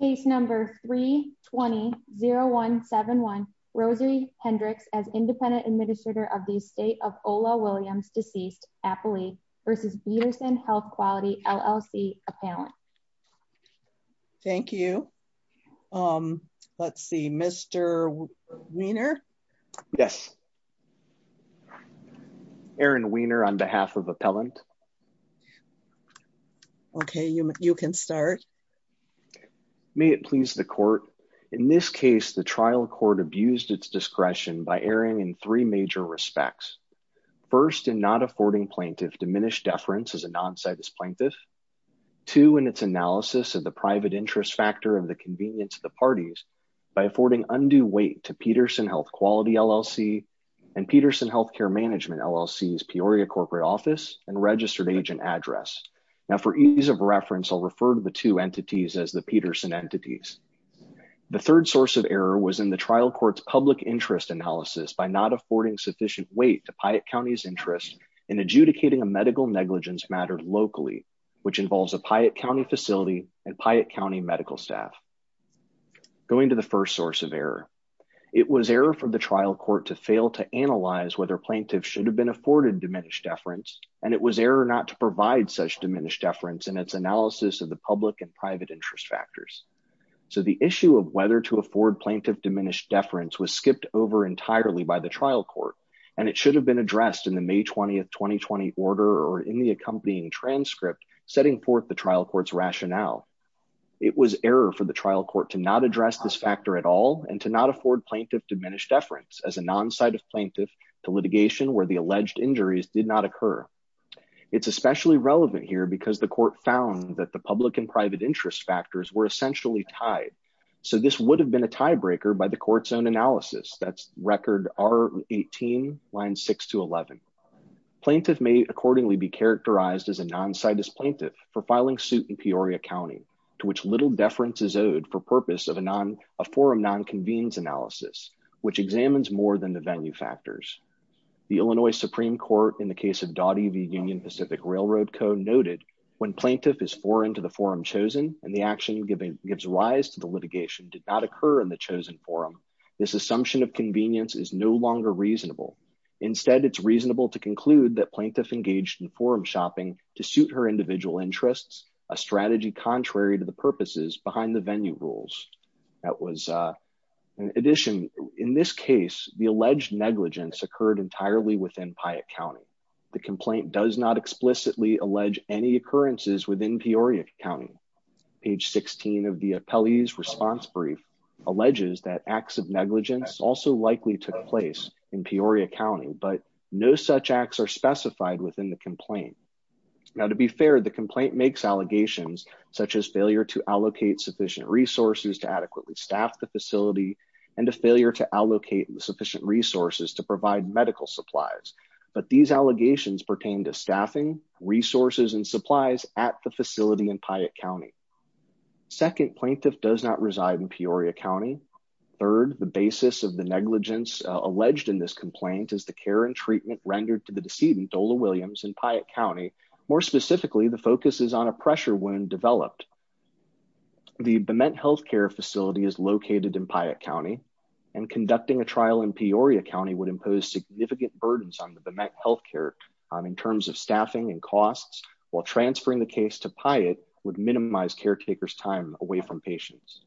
Case number 320171, Rosie Hendricks as independent administrator of the Estate of Ola Williams, deceased, Appalachia, v. Peterson Health Quality, LLC, Appellant. Thank you. Let's see, Mr. Wiener? Yes. Erin Wiener on behalf of Appellant. Okay, you can start. May it please the Court. In this case, the trial court abused its discretion by erring in three major respects. First, in not affording plaintiff diminished deference as a non-citus plaintiff. Two, in its analysis of the private interest factor of the convenience of the parties, by affording undue weight to Peterson Health Quality, LLC, and Peterson agent address. Now, for ease of reference, I'll refer to the two entities as the Peterson entities. The third source of error was in the trial court's public interest analysis by not affording sufficient weight to Piatt County's interest in adjudicating a medical negligence matter locally, which involves a Piatt County facility and Piatt County medical staff. Going to the first source of error, it was error for the trial court to fail to analyze whether plaintiff should have been afforded diminished deference, and it was error not to provide such diminished deference in its analysis of the public and private interest factors. So, the issue of whether to afford plaintiff diminished deference was skipped over entirely by the trial court, and it should have been addressed in the May 20, 2020 order or in the accompanying transcript setting forth the trial court's rationale. It was error for the trial court to not address this factor at all and to not afford plaintiff diminished deference as a plaintiff to litigation where the alleged injuries did not occur. It's especially relevant here because the court found that the public and private interest factors were essentially tied. So, this would have been a tiebreaker by the court's own analysis. That's record R18, line 6 to 11. Plaintiff may accordingly be characterized as a non-citus plaintiff for filing suit in Peoria County, to which little deference is owed for purpose of a forum non-convenes analysis, which examines more than the venue factors. The Illinois Supreme Court in the case of Dottie v. Union Pacific Railroad Co. noted when plaintiff is foreign to the forum chosen and the action giving gives rise to the litigation did not occur in the chosen forum, this assumption of convenience is no longer reasonable. Instead, it's reasonable to conclude that plaintiff engaged in forum shopping to suit her individual interests, a strategy contrary to the purposes behind the in this case, the alleged negligence occurred entirely within Piatt County. The complaint does not explicitly allege any occurrences within Peoria County. Page 16 of the appellee's response brief alleges that acts of negligence also likely took place in Peoria County, but no such acts are specified within the complaint. Now, to be fair, the complaint makes allegations such as failure to allocate sufficient resources to adequately staff the facility and a failure to allocate sufficient resources to provide medical supplies, but these allegations pertain to staffing, resources, and supplies at the facility in Piatt County. Second, plaintiff does not reside in Peoria County. Third, the basis of the negligence alleged in this complaint is the care and treatment rendered to the decedent, Ola Williams, in Piatt County. More specifically, the focus is on a the BEMET healthcare facility is located in Piatt County, and conducting a trial in Peoria County would impose significant burdens on the BEMET healthcare in terms of staffing and costs, while transferring the case to Piatt would minimize caretakers' time away from patients.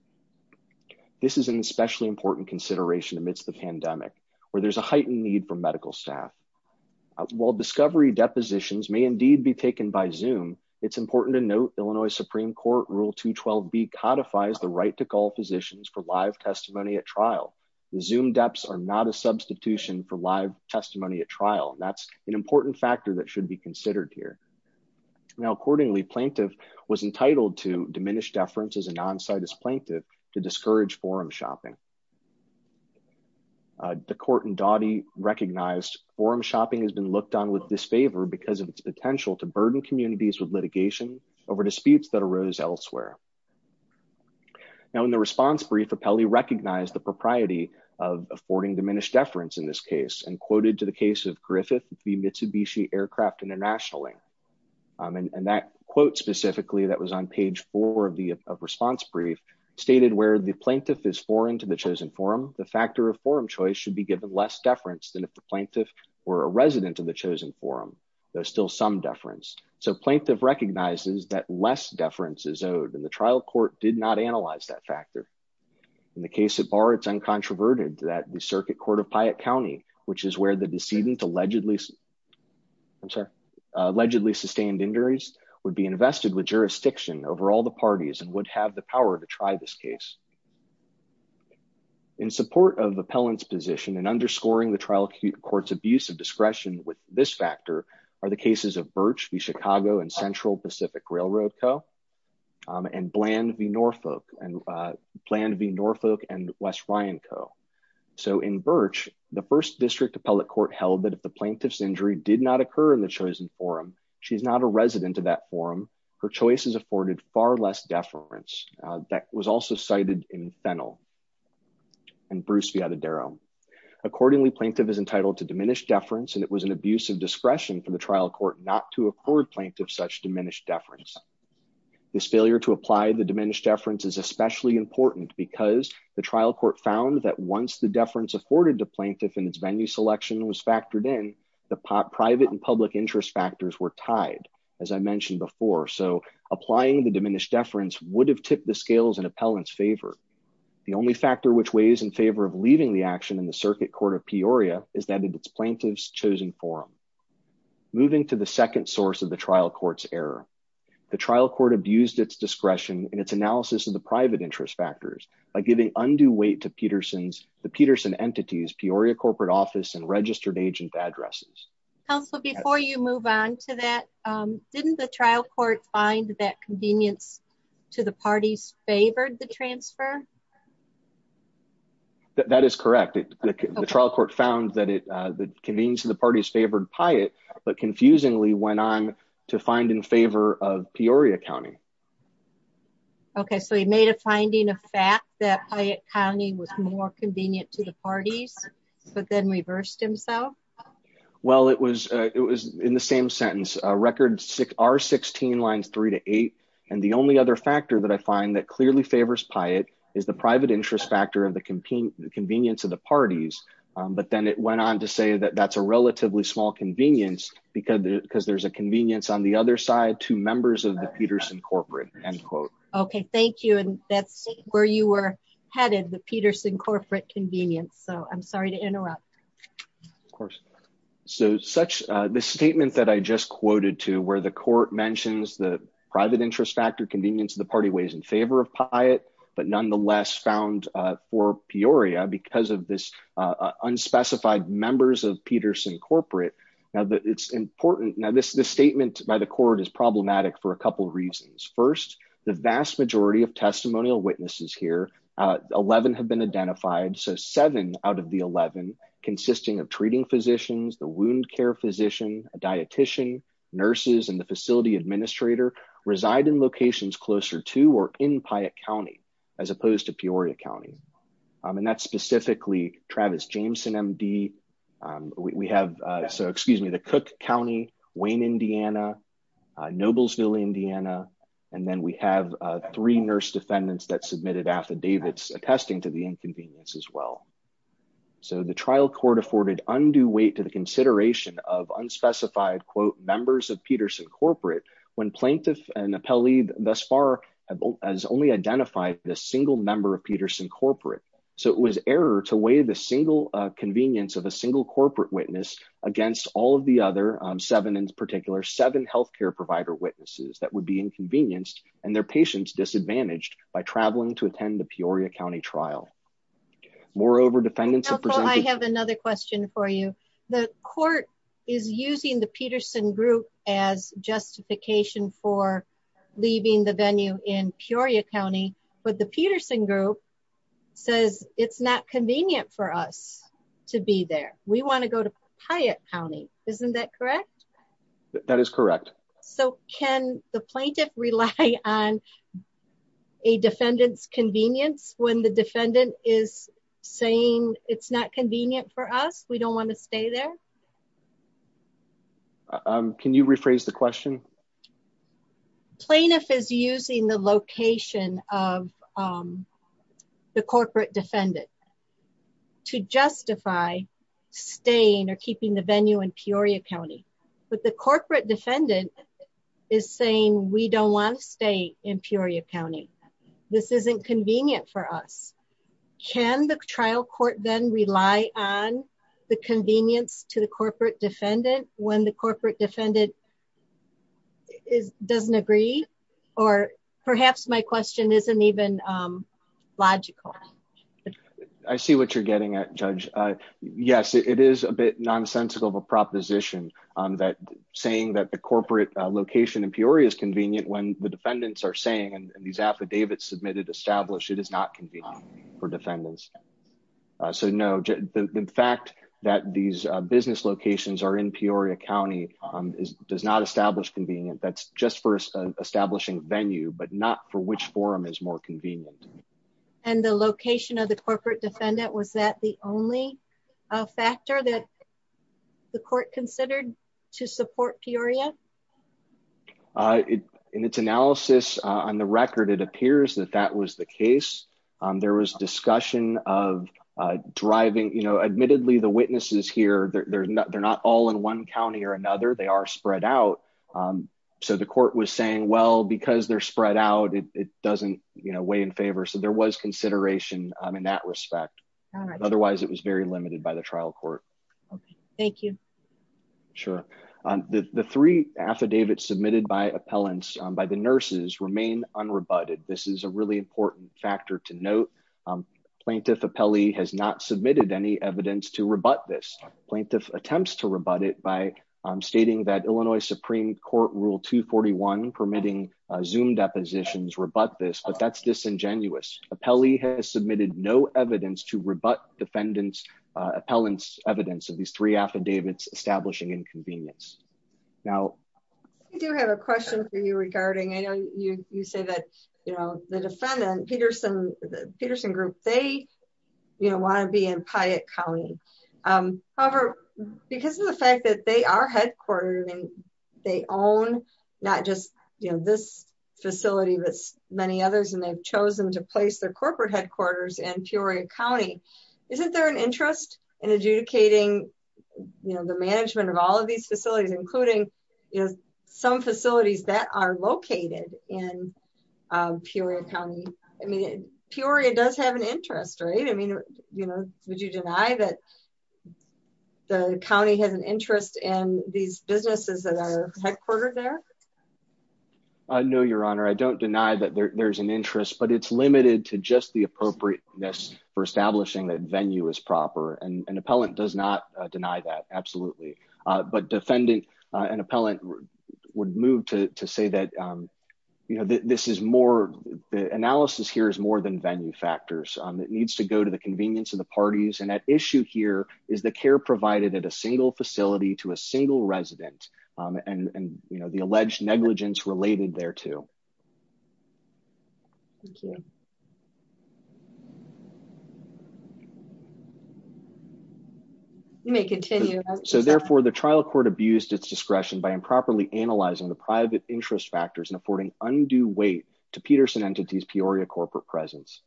This is an especially important consideration amidst the pandemic, where there's a heightened need for medical staff. While discovery depositions may indeed be taken by Zoom, it's important to note Illinois Supreme Court Rule 212B codifies the right to call physicians for live testimony at trial. The Zoom deps are not a substitution for live testimony at trial. That's an important factor that should be considered here. Now, accordingly, plaintiff was entitled to diminished deference as a non-citus plaintiff to discourage forum shopping. The court in Dawdy recognized forum shopping has been looked on with disfavor because of potential to burden communities with litigation over disputes that arose elsewhere. Now, in the response brief, Apelli recognized the propriety of affording diminished deference in this case, and quoted to the case of Griffith v. Mitsubishi Aircraft International, and that quote specifically that was on page four of the response brief, stated where the plaintiff is foreign to the chosen forum, the factor of forum choice should be given less deference than if the sum deference. So plaintiff recognizes that less deference is owed, and the trial court did not analyze that factor. In the case at bar, it's uncontroverted that the circuit court of Piatt County, which is where the decedent allegedly sustained injuries, would be invested with jurisdiction over all the parties and would have the power to try this case. In support of appellant's position and underscoring the trial court's abuse of discretion with this factor, are the cases of Birch v. Chicago and Central Pacific Railroad Co., and Bland v. Norfolk, and Bland v. Norfolk and West Ryan Co. So in Birch, the first district appellate court held that if the plaintiff's injury did not occur in the chosen forum, she's not a resident of that forum, her choice is afforded far less deference. That was also cited in Fennell and Bruce v. Adderall. Accordingly, plaintiff is entitled to diminished deference, and it was an abuse of discretion for the trial court not to afford plaintiff such diminished deference. This failure to apply the diminished deference is especially important because the trial court found that once the deference afforded to plaintiff and its venue selection was factored in, the private and public interest factors were tied, as I mentioned before. So applying the diminished deference would have circuit court of Peoria is that of its plaintiff's chosen forum. Moving to the second source of the trial court's error, the trial court abused its discretion in its analysis of the private interest factors by giving undue weight to the Peterson entities, Peoria corporate office, and registered agent addresses. Counselor, before you move on to that, didn't the trial court find that convenience to the parties favored the transfer? That is correct. The trial court found that it, uh, the convenience of the parties favored Piat, but confusingly went on to find in favor of Peoria County. Okay. So he made a finding of fact that Piat County was more convenient to the parties, but then reversed himself. Well, it was, uh, it was in the same sentence, uh, record six, R16 lines three to eight. And the only other factor that I find that clearly favors Piat is the private interest factor of the convenience of the parties. Um, but then it went on to say that that's a relatively small convenience because there's a convenience on the other side to members of the Peterson corporate end quote. Okay. Thank you. And that's where you were headed, the Peterson corporate convenience. So I'm sorry to interrupt. Of course. So such a, this statement that I just quoted to where the court mentions the private interest convenience of the party ways in favor of Piat, but nonetheless found, uh, for Peoria because of this, uh, unspecified members of Peterson corporate. Now that it's important. Now this, this statement by the court is problematic for a couple of reasons. First, the vast majority of testimonial witnesses here, uh, 11 have been identified. So seven out of the 11 consisting of treating physicians, the wound care physician, a dietician nurses, and the facility administrator reside in locations closer to, or in Piat County, as opposed to Peoria County. Um, and that's specifically Travis Jameson MD. Um, we have, uh, so excuse me, the Cook County, Wayne, Indiana, Noblesville, Indiana. And then we have, uh, three nurse defendants that submitted affidavits attesting to the inconvenience as well. So the trial court afforded undue weight to the thus far has only identified the single member of Peterson corporate. So it was error to weigh the single, uh, convenience of a single corporate witness against all of the other, um, seven in particular seven healthcare provider witnesses that would be inconvenienced and their patients disadvantaged by traveling to attend the Peoria County trial. Moreover, defendants, I have another question for you. The court is using the Peterson group as justification for leaving the venue in Peoria County, but the Peterson group says it's not convenient for us to be there. We want to go to Piat County. Isn't that correct? That is correct. So can the plaintiff rely on a defendant's convenience when the defendant is saying it's not convenient for us? We don't want to stay there. Um, can you rephrase the question? Plaintiff is using the location of, um, the corporate defendant to justify staying or keeping the venue in Peoria County, but the corporate defendant is saying we don't want to stay in Peoria County. This isn't convenient for us. Can the trial court then rely on the convenience to the corporate defendant when the corporate defendant is doesn't agree? Or perhaps my question isn't even, um, logical. I see what you're getting at judge. Uh, yes, it is a bit nonsensical of a proposition on that saying that the corporate location in Peoria is convenient when the defendants are saying, and these affidavits submitted established it is not convenient for defendants. So no, the fact that these business locations are in Peoria County, um, does not establish convenient. That's just for establishing venue, but not for which forum is more convenient. And the location of the corporate defendant, was that the only factor that the court considered to support Peoria? Uh, in its analysis on the record, it appears that that was the case. There was discussion of, uh, driving, you know, admittedly, the witnesses here, they're not all in one county or another. They are spread out. Um, so the court was saying, well, because they're spread out, it doesn't weigh in favor. So there was consideration in that respect. Otherwise, it was very limited by the trial court. Okay. Thank you. Sure. Um, the, the three affidavits submitted by appellants by the nurses remain unrebutted. This is a really important factor to note. Um, plaintiff appellee has not submitted any evidence to rebut this plaintiff attempts to rebut it by, um, stating that Illinois Supreme court rule two 41 permitting, uh, zoom depositions rebut this, but that's disingenuous. Appellee has submitted no evidence to rebut defendants, uh, appellants evidence of these three affidavits establishing inconvenience. Now, I do have a question for you regarding, I know you, you say that, you know, the defendant Peterson, the Peterson group, they, you know, want to be in Piatt County. Um, however, because the fact that they are headquartered and they own not just, you know, this facility, but many others, and they've chosen to place their corporate headquarters and Peoria County, isn't there an interest in adjudicating, you know, the management of all of these facilities, including some facilities that are located in, um, Peoria County. I mean, Peoria does have an interest, right? I mean, you know, would you deny that the County has an interest in these businesses that are headquartered there? I know your honor. I don't deny that there there's an interest, but it's limited to just the appropriateness for establishing that venue is proper. And an appellant does not deny that. Absolutely. Uh, but defendant, uh, an appellant would move to say that, um, you know, this is more, the analysis here is more than venue factors. It needs to go to the convenience of the parties. And that issue here is the care provided at a single facility to a single resident. Um, and, and, you know, the alleged negligence related there too. Thank you. You may continue. So therefore the trial court abused its discretion by improperly analyzing the private interest factors and affording undue weight to Peterson entity's Peoria corporate presence.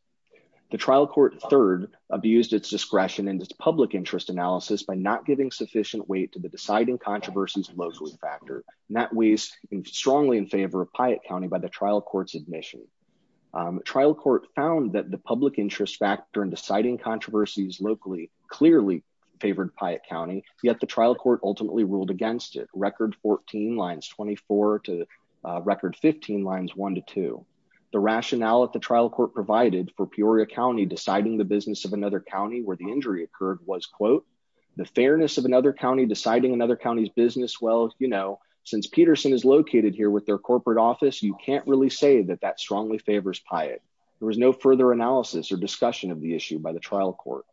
The trial court third abused its discretion and its public interest analysis by not giving sufficient weight to the deciding controversies locally factor and that weighs strongly in favor of Piatt County by the trial court's admission. Um, trial court found that the public interest factor and deciding controversies locally clearly favored Piatt County yet the trial court ultimately ruled against it record 14 lines 24 to record 15 lines, one to two, the rationale at the trial court provided for Peoria County, deciding the business of another County where the injury occurred was quote, the fairness of another County deciding another County's business. Well, you know, since Peterson is located here with their corporate office, you can't really say that that strongly favors Piatt. There was no further analysis or discussion of the issue by the trial court.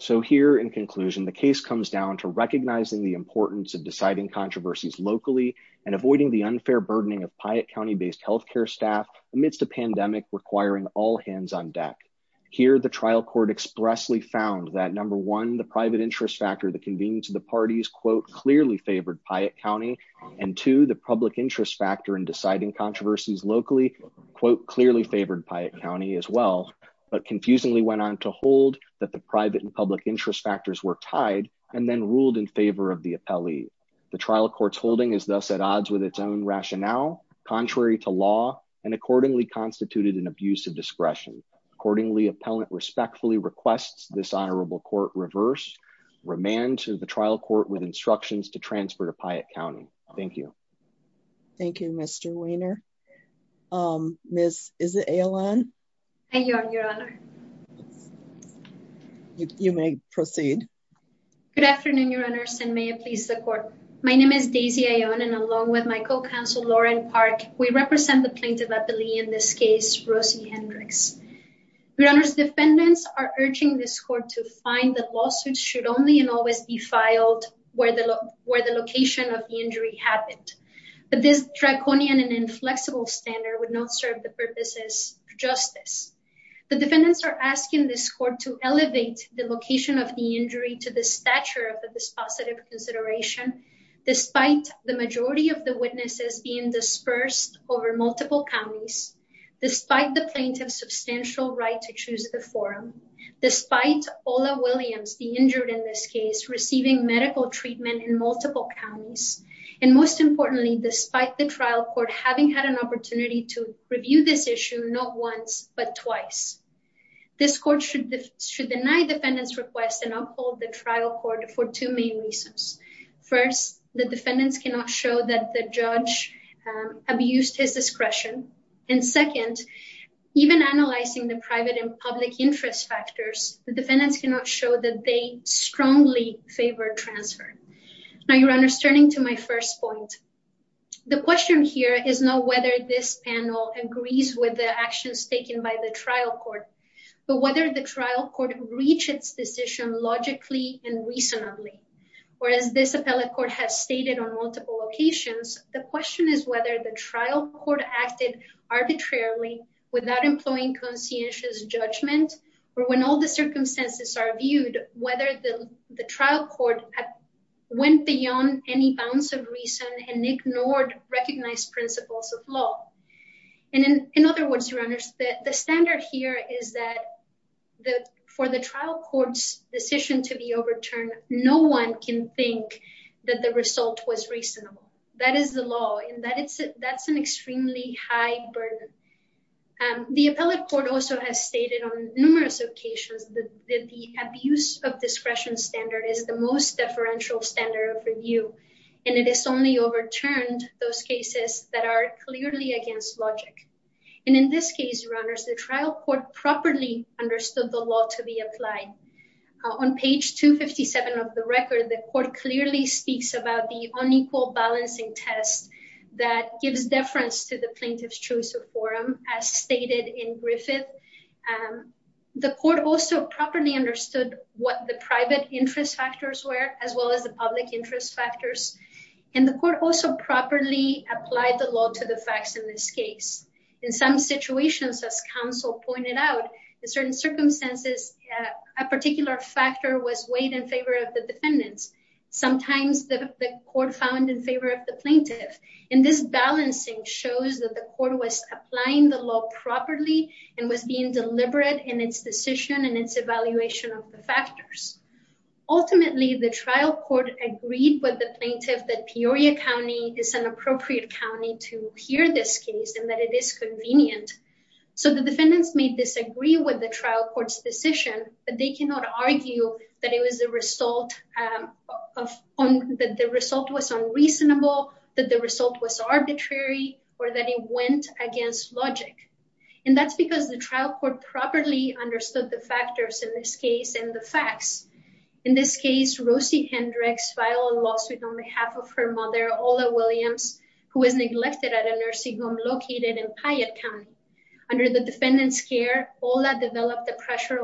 So here in conclusion, the case comes down to recognizing the importance of deciding controversies locally and avoiding the unfair burdening of Piatt County based healthcare staff amidst a pandemic requiring all hands on deck here. The trial court expressly found that number one, the private interest factor, the convenience of the parties, quote, clearly favored Piatt County and to the public interest factor in deciding controversies locally, quote, clearly favored Piatt County as well, but confusingly went on to hold that the private and public interest factors were tied and then ruled in favor of the appellee. The trial court's holding is thus at odds with its own rationale, contrary to law and accordingly constituted an abuse of discretion. Accordingly, appellant respectfully requests this honorable court reverse remand to the trial court with instructions to transfer to Piatt County. Thank you. Thank you, Mr. Weiner. Um, Ms. Is it a line? Thank you, Your Honor. You may proceed. Good afternoon, Your Honors, and may it please the court. My name is Daisy Ion and along with my co-counsel Lauren Park, we represent the plaintiff appellee in this case, Rosie Hendricks. Your Honor's defendants are urging this court to find that lawsuits should only and always be filed where the location of the injury happened, but this draconian and inflexible standard would not serve the purposes of justice. The defendants are asking this court to elevate the location of the injury to the stature of the dispositive consideration. Despite the majority of the witnesses being dispersed over multiple counties, despite the plaintiff's substantial right to choose the forum, despite Ola Williams, the injured in this case, receiving medical treatment in multiple counties, and most importantly, despite the trial court having had an opportunity to review this issue, not once but twice, this court should should deny defendants request and uphold the trial court for two main reasons. First, the defendants cannot show that the judge abused his discretion. And second, even analyzing the private and public interest factors, the defendants cannot show that they strongly favor transfer. Now your honor's turning to my first point. The question here is not whether this panel agrees with the actions taken by the trial court, but whether the trial court reached its decision logically and reasonably. Whereas this appellate court has stated on without employing conscientious judgment, or when all the circumstances are viewed, whether the trial court went beyond any bounds of reason and ignored recognized principles of law. And in other words, your honor, the standard here is that for the trial court's decision to be overturned, no one can think that the result was reasonable. That is the law and that's an the appellate court also has stated on numerous occasions that the abuse of discretion standard is the most differential standard of review. And it is only overturned those cases that are clearly against logic. And in this case, runners, the trial court properly understood the law to be applied. On page 257 of the record, the court clearly speaks about the unequal balancing test that gives deference to the plaintiff's choice of forum as stated in Griffith. The court also properly understood what the private interest factors were, as well as the public interest factors. And the court also properly applied the law to the facts in this case. In some situations, as counsel pointed out, in certain circumstances, a particular factor was the court found in favor of the plaintiff. And this balancing shows that the court was applying the law properly and was being deliberate in its decision and its evaluation of the factors. Ultimately, the trial court agreed with the plaintiff that Peoria County is an appropriate county to hear this case and that it is convenient. So the defendants may disagree with the trial court's decision, but they cannot argue that the result was unreasonable, that the result was arbitrary, or that it went against logic. And that's because the trial court properly understood the factors in this case and the facts. In this case, Rosie Hendricks filed a lawsuit on behalf of her mother, Ola Williams, who was neglected at a pressure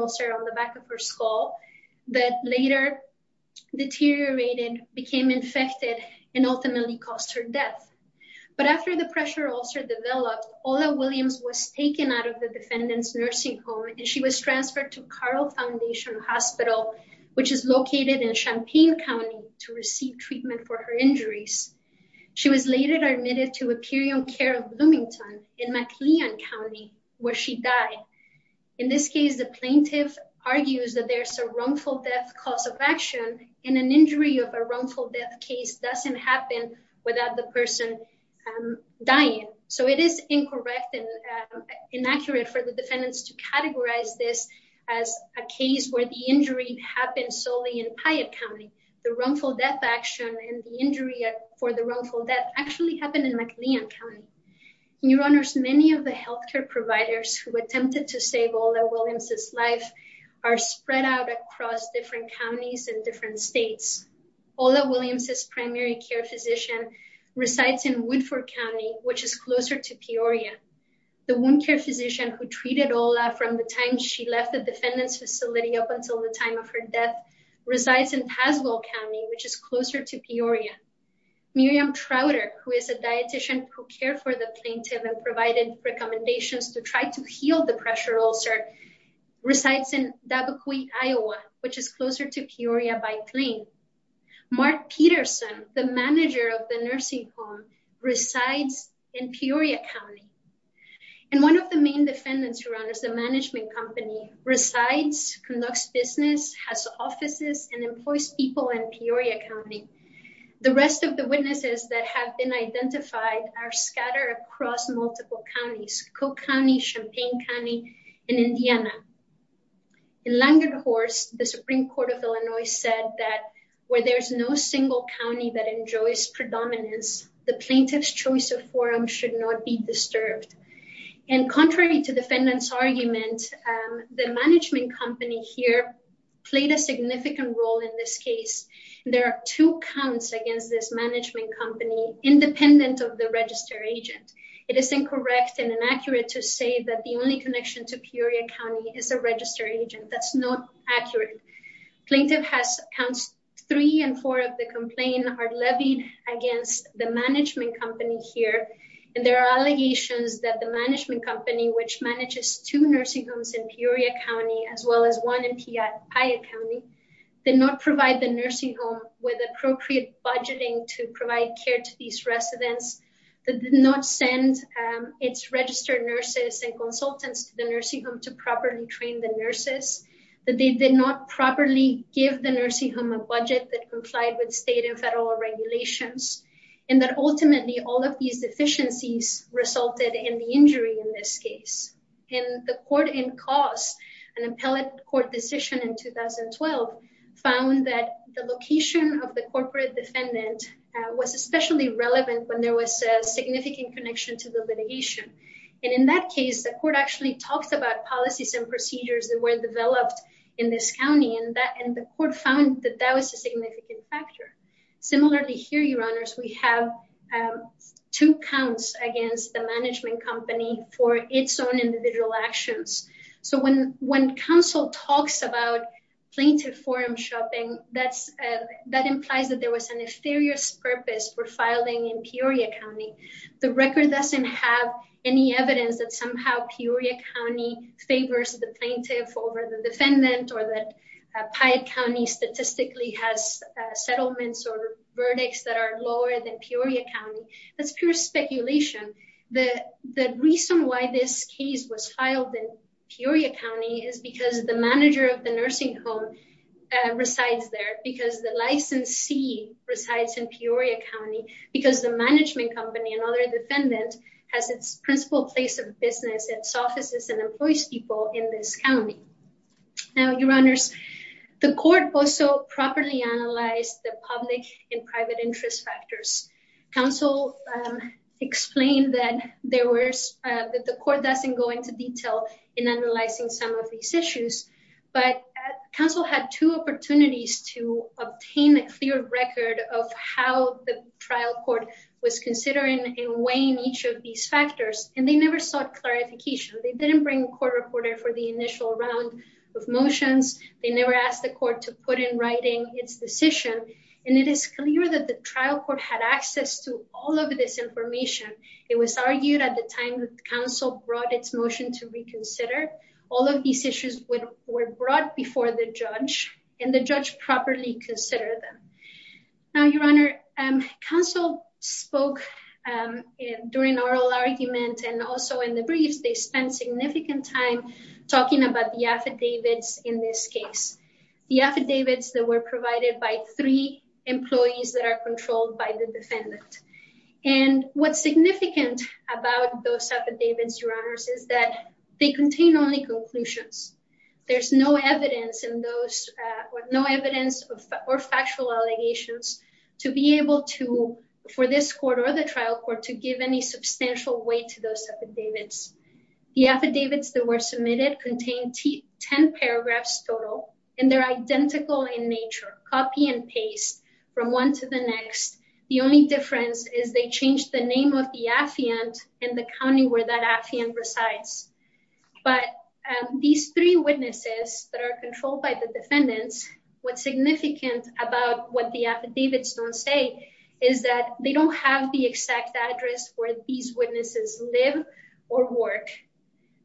ulcer on the back of her skull that later deteriorated, became infected, and ultimately caused her death. But after the pressure ulcer developed, Ola Williams was taken out of the defendant's nursing home, and she was transferred to Carl Foundation Hospital, which is located in Champaign County, to receive treatment for her injuries. She was later admitted to Epirion Care of Bloomington in McLean County, where she died. In this case, the plaintiff argues that there's a wrongful death cause of action, and an injury of a wrongful death case doesn't happen without the person dying. So it is incorrect and inaccurate for the defendants to categorize this as a case where the injury happened solely in Piatt County. The wrongful death action and the injury for the wrongful death actually happened in McLean County. Your Honors, many of the health care providers who Ola Williams' life are spread out across different counties and different states. Ola Williams' primary care physician resides in Woodford County, which is closer to Peoria. The wound care physician who treated Ola from the time she left the defendant's facility up until the time of her death resides in Paswell County, which is closer to Peoria. Miriam Trowder, who is a dietician who resides in Dabakwe, Iowa, which is closer to Peoria by plane. Mark Peterson, the manager of the nursing home, resides in Peoria County. And one of the main defendants, Your Honors, the management company resides, conducts business, has offices, and employs people in Peoria County. The rest of the witnesses that have been identified are scattered across multiple counties. Cook County, Champaign County, and Indiana. In Langerhorst, the Supreme Court of Illinois said that where there's no single county that enjoys predominance, the plaintiff's choice of forum should not be disturbed. And contrary to the defendant's argument, the management company here played a significant role in this case. There are two counts against this management company, independent of the register agent. It is incorrect and inaccurate to say that the only connection to Peoria County is a register agent. That's not accurate. Plaintiff has counts three and four of the complaint are levied against the management company here. And there are allegations that the management company, which manages two nursing homes in Peoria County, as well as one in Pia County, did not provide the nursing home with appropriate budgeting to provide care to these residents, that did not send its registered nurses and consultants to the nursing home to properly train the nurses, that they did not properly give the nursing home a budget that complied with state and federal regulations, and that ultimately all of these deficiencies resulted in the injury in this case. And the court in cause, an appellate court decision in 2012, found that the location of the corporate defendant was especially relevant when there was a significant connection to the litigation. And in that case, the court actually talked about policies and procedures that were developed in this county, and the court found that that was a significant factor. Similarly, here, your honors, we have two counts against the management company for its own individual actions. So when when counsel talks about plaintiff forum shopping, that implies that there was a nefarious purpose for filing in Peoria County. The record doesn't have any evidence that somehow Peoria County favors the plaintiff over the defendant, or that Piatt County statistically has settlements or verdicts that are lower than Peoria County. That's pure speculation. The reason why this case was filed in Peoria County is because the manager of the nursing home resides there, because the licensee resides in Peoria County, because the management company and other defendant has its principal place of business, its offices, and employs people in this the public and private interest factors. Counsel explained that the court doesn't go into detail in analyzing some of these issues, but counsel had two opportunities to obtain a clear record of how the trial court was considering and weighing each of these factors, and they never sought clarification. They didn't bring a court reporter for the initial round of motions. They never asked the court to put in writing its decision, and it is clear that the trial court had access to all of this information. It was argued at the time that counsel brought its motion to reconsider. All of these issues were brought before the judge, and the judge properly considered them. Now, Your Honor, counsel spoke during oral argument and also in the briefs. They spent significant time talking about the affidavits in this case, the affidavits that were provided by three employees that are controlled by the defendant. And what's significant about those affidavits, Your Honors, is that they contain only conclusions. There's no evidence in those, no evidence or factual allegations to be able to, for this court or the trial court, to give any evidence. The affidavits that were submitted contained 10 paragraphs total, and they're identical in nature, copy and paste from one to the next. The only difference is they changed the name of the affiant and the county where that affiant resides. But these three witnesses that are controlled by the defendants, what's significant about what the affidavits don't say is that they don't have the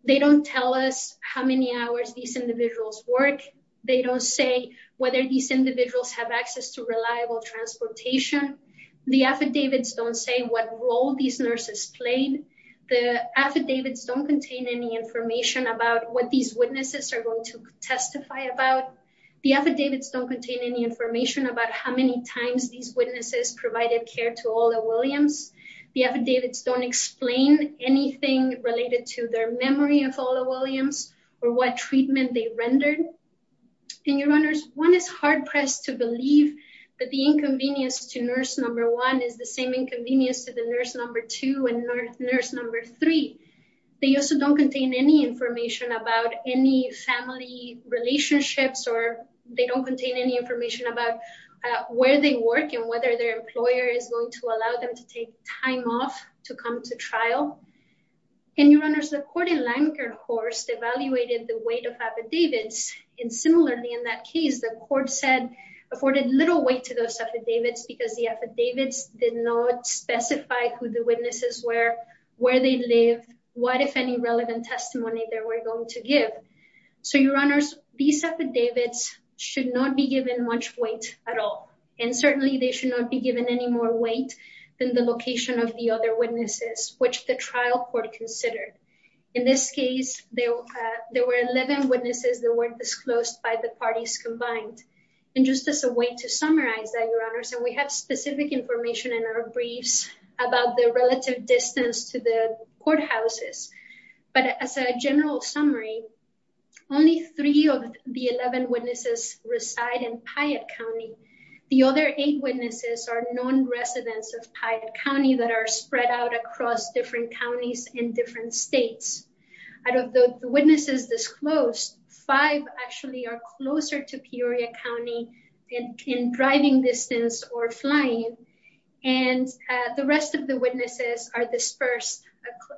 they don't tell us how many hours these individuals work. They don't say whether these individuals have access to reliable transportation. The affidavits don't say what role these nurses played. The affidavits don't contain any information about what these witnesses are going to testify about. The affidavits don't contain any information about how many times these witnesses provided care to Ola Williams. The affidavits don't explain anything related to their memory of Ola Williams or what treatment they rendered. And your honors, one is hard-pressed to believe that the inconvenience to nurse number one is the same inconvenience to the nurse number two and nurse number three. They also don't contain any information about any family relationships or they don't contain any information about where they work and whether their employer is going allow them to take time off to come to trial. And your honors, the court in Lankerhorst evaluated the weight of affidavits and similarly in that case the court said afforded little weight to those affidavits because the affidavits did not specify who the witnesses were, where they live, what if any relevant testimony they were going to give. So your honors, these affidavits should not be given much weight at all and certainly they should not be given any more weight than the location of the other witnesses which the trial court considered. In this case, there were 11 witnesses that weren't disclosed by the parties combined. And just as a way to summarize that, your honors, and we have specific information in our briefs about the relative distance to the in Piatt County. The other eight witnesses are non-residents of Piatt County that are spread out across different counties in different states. Out of the witnesses disclosed, five actually are closer to Peoria County in driving distance or flying and the rest of the witnesses are dispersed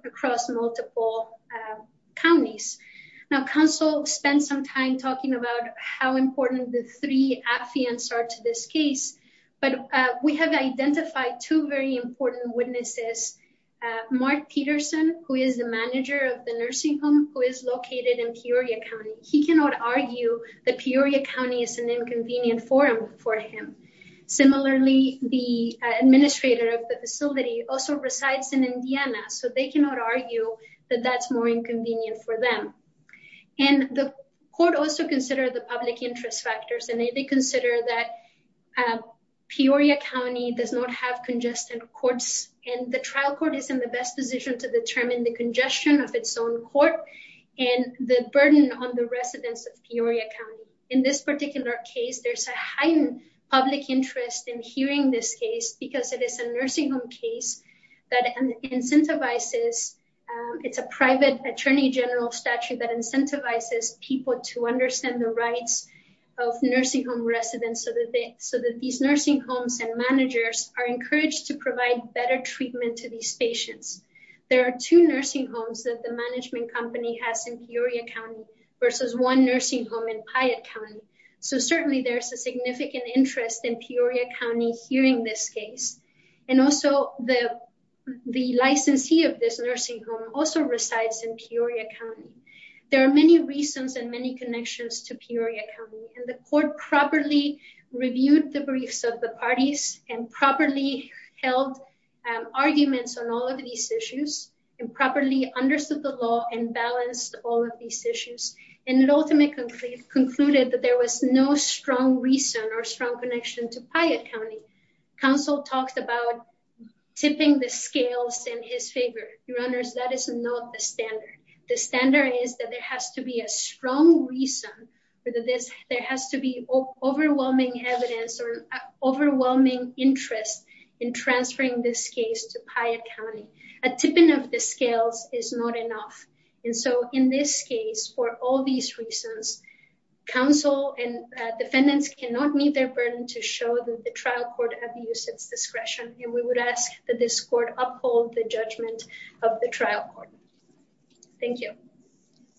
across multiple counties. Now counsel spent some time talking about how important the three affidavits are to this case, but we have identified two very important witnesses. Mark Peterson, who is the manager of the nursing home who is located in Peoria County, he cannot argue that Peoria County is an inconvenient forum for him. Similarly, the administrator of the nursing home is not an inconvenience for them. And the court also considered the public interest factors and they consider that Peoria County does not have congested courts and the trial court is in the best position to determine the congestion of its own court and the burden on the residents of Peoria County. In this particular case, there's a heightened public interest in hearing this case because it is a nursing home case that incentivizes, it's a private attorney general statute that incentivizes people to understand the rights of nursing home residents so that these nursing homes and managers are encouraged to provide better treatment to these patients. There are two nursing homes that the management company has in Peoria County versus one nursing home in Piatt County, so certainly there's a significant interest in Peoria County hearing this case. And also the the licensee of this nursing home also resides in Peoria County. There are many reasons and many connections to Peoria County and the court properly reviewed the briefs of the parties and properly held arguments on all of these issues and properly understood the law and balanced all of these issues and it ultimately concluded that there was no strong reason or strong connection to Piatt County. Counsel talked about tipping the scales in his favor. Your honors, that is not the standard. The standard is that there has to be a strong reason for this, there has to be overwhelming evidence or overwhelming interest in transferring this case to Piatt County. A tipping of the scales is not enough and so in this case for all these reasons, counsel and defendants cannot meet their burden to show that the trial court have used its discretion and we would ask that this court uphold the judgment of the trial court. Thank you.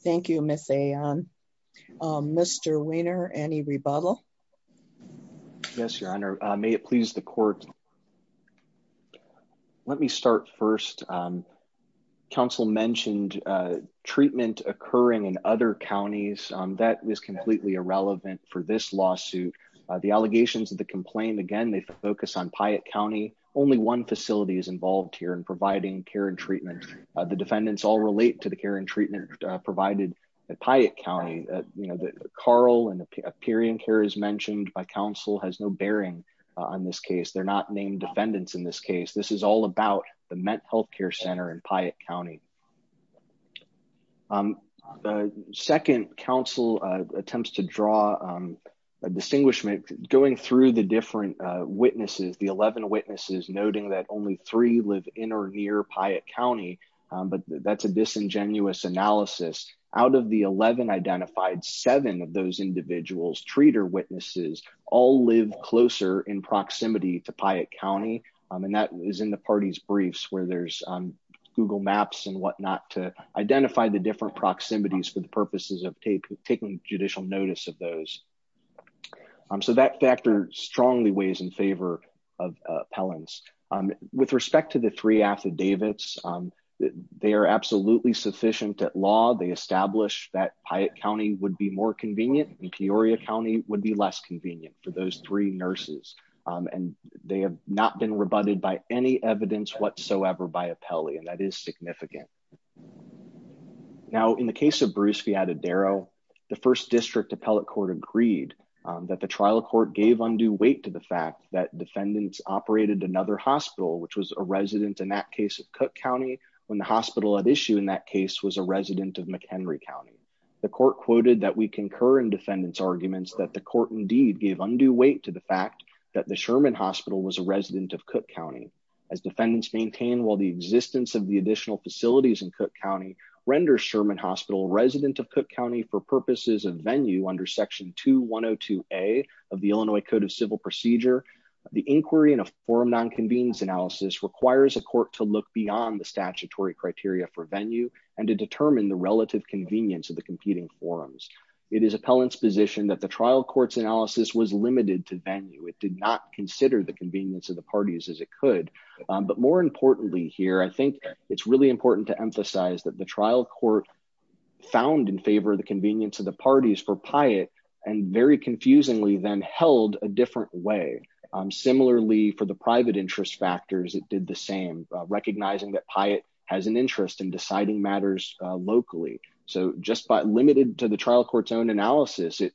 Thank you, Ms. Ayan. Mr. Weiner, any rebuttal? Yes, your honor. May it please the court. Thank you. Let me start first. Counsel mentioned treatment occurring in other counties. That is completely irrelevant for this lawsuit. The allegations of the complaint, again, they focus on Piatt County. Only one facility is involved here in providing care and treatment. The defendants all relate to the care and treatment provided at Piatt County. Carl and the Peorian Care is mentioned by counsel has no bearing on this case. They're not named defendants in this case. This is all about the Met Health Care Center in Piatt County. The second counsel attempts to draw a distinguishment going through the different witnesses, the 11 witnesses noting that only three live in or near Piatt County, but that's a disingenuous analysis. Out of the 11 identified, seven of those individuals, treater witnesses, all live closer in proximity to Piatt County, and that is in the party's briefs where there's Google Maps and whatnot to identify the different proximities for the purposes of taking judicial notice of those. So that factor strongly weighs in favor of appellants. With respect to the three affidavits, they are absolutely sufficient at law. They establish that Piatt County would be more convenient and Peoria County would be less convenient for those three nurses, and they have not been rebutted by any evidence whatsoever by appellee, and that is significant. Now, in the case of Bruce Fiatadero, the first district appellate court agreed that the trial court gave undue weight to the fact that defendants operated another hospital, which was a resident in that case of Cook County when the hospital at issue in that was a resident of McHenry County. The court quoted that we concur in defendants' arguments that the court indeed gave undue weight to the fact that the Sherman Hospital was a resident of Cook County. As defendants maintain while the existence of the additional facilities in Cook County renders Sherman Hospital a resident of Cook County for purposes of venue under section 2102a of the Illinois Code of Civil Procedure, the inquiry in a forum non-convenience analysis requires a court to look beyond the statutory criteria for venue and to determine the relative convenience of the competing forums. It is appellant's position that the trial court's analysis was limited to venue. It did not consider the convenience of the parties as it could, but more importantly here, I think it's really important to emphasize that the trial court found in favor of the convenience of the parties for Piatt and very confusingly then held a recognizing that Piatt has an interest in deciding matters locally. So just by limited to the trial court's own analysis, it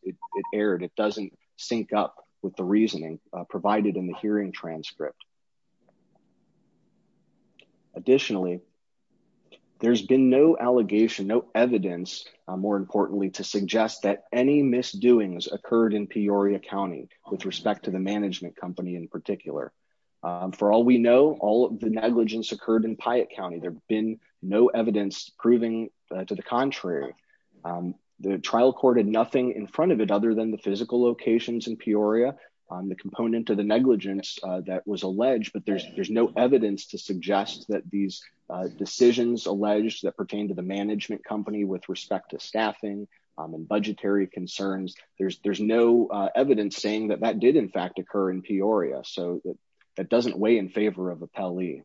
erred. It doesn't sync up with the reasoning provided in the hearing transcript. Additionally, there's been no allegation, no evidence more importantly to suggest that any misdoings occurred in Peoria County with respect to the management company in particular. For all we know, all the negligence occurred in Piatt County. There's been no evidence proving to the contrary. The trial court had nothing in front of it other than the physical locations in Peoria on the component of the negligence that was alleged, but there's no evidence to suggest that these decisions alleged that pertain to the management company with respect to staffing and budgetary concerns. There's no evidence saying that that did in Peoria, so that doesn't weigh in favor of Appellee.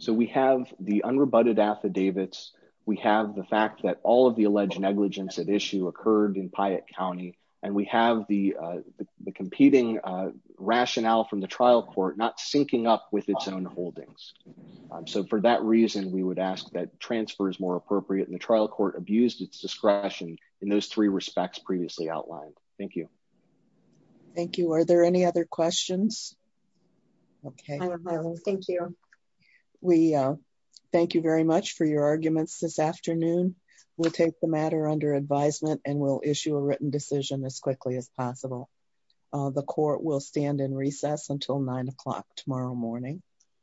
So we have the unrebutted affidavits. We have the fact that all of the alleged negligence at issue occurred in Piatt County, and we have the competing rationale from the trial court not syncing up with transfers more appropriate, and the trial court abused its discretion in those three respects previously outlined. Thank you. Thank you. Are there any other questions? Okay, thank you. We thank you very much for your arguments this afternoon. We'll take the matter under advisement and we'll issue a written decision as quickly as possible. The court will stand in recess until nine o'clock tomorrow morning.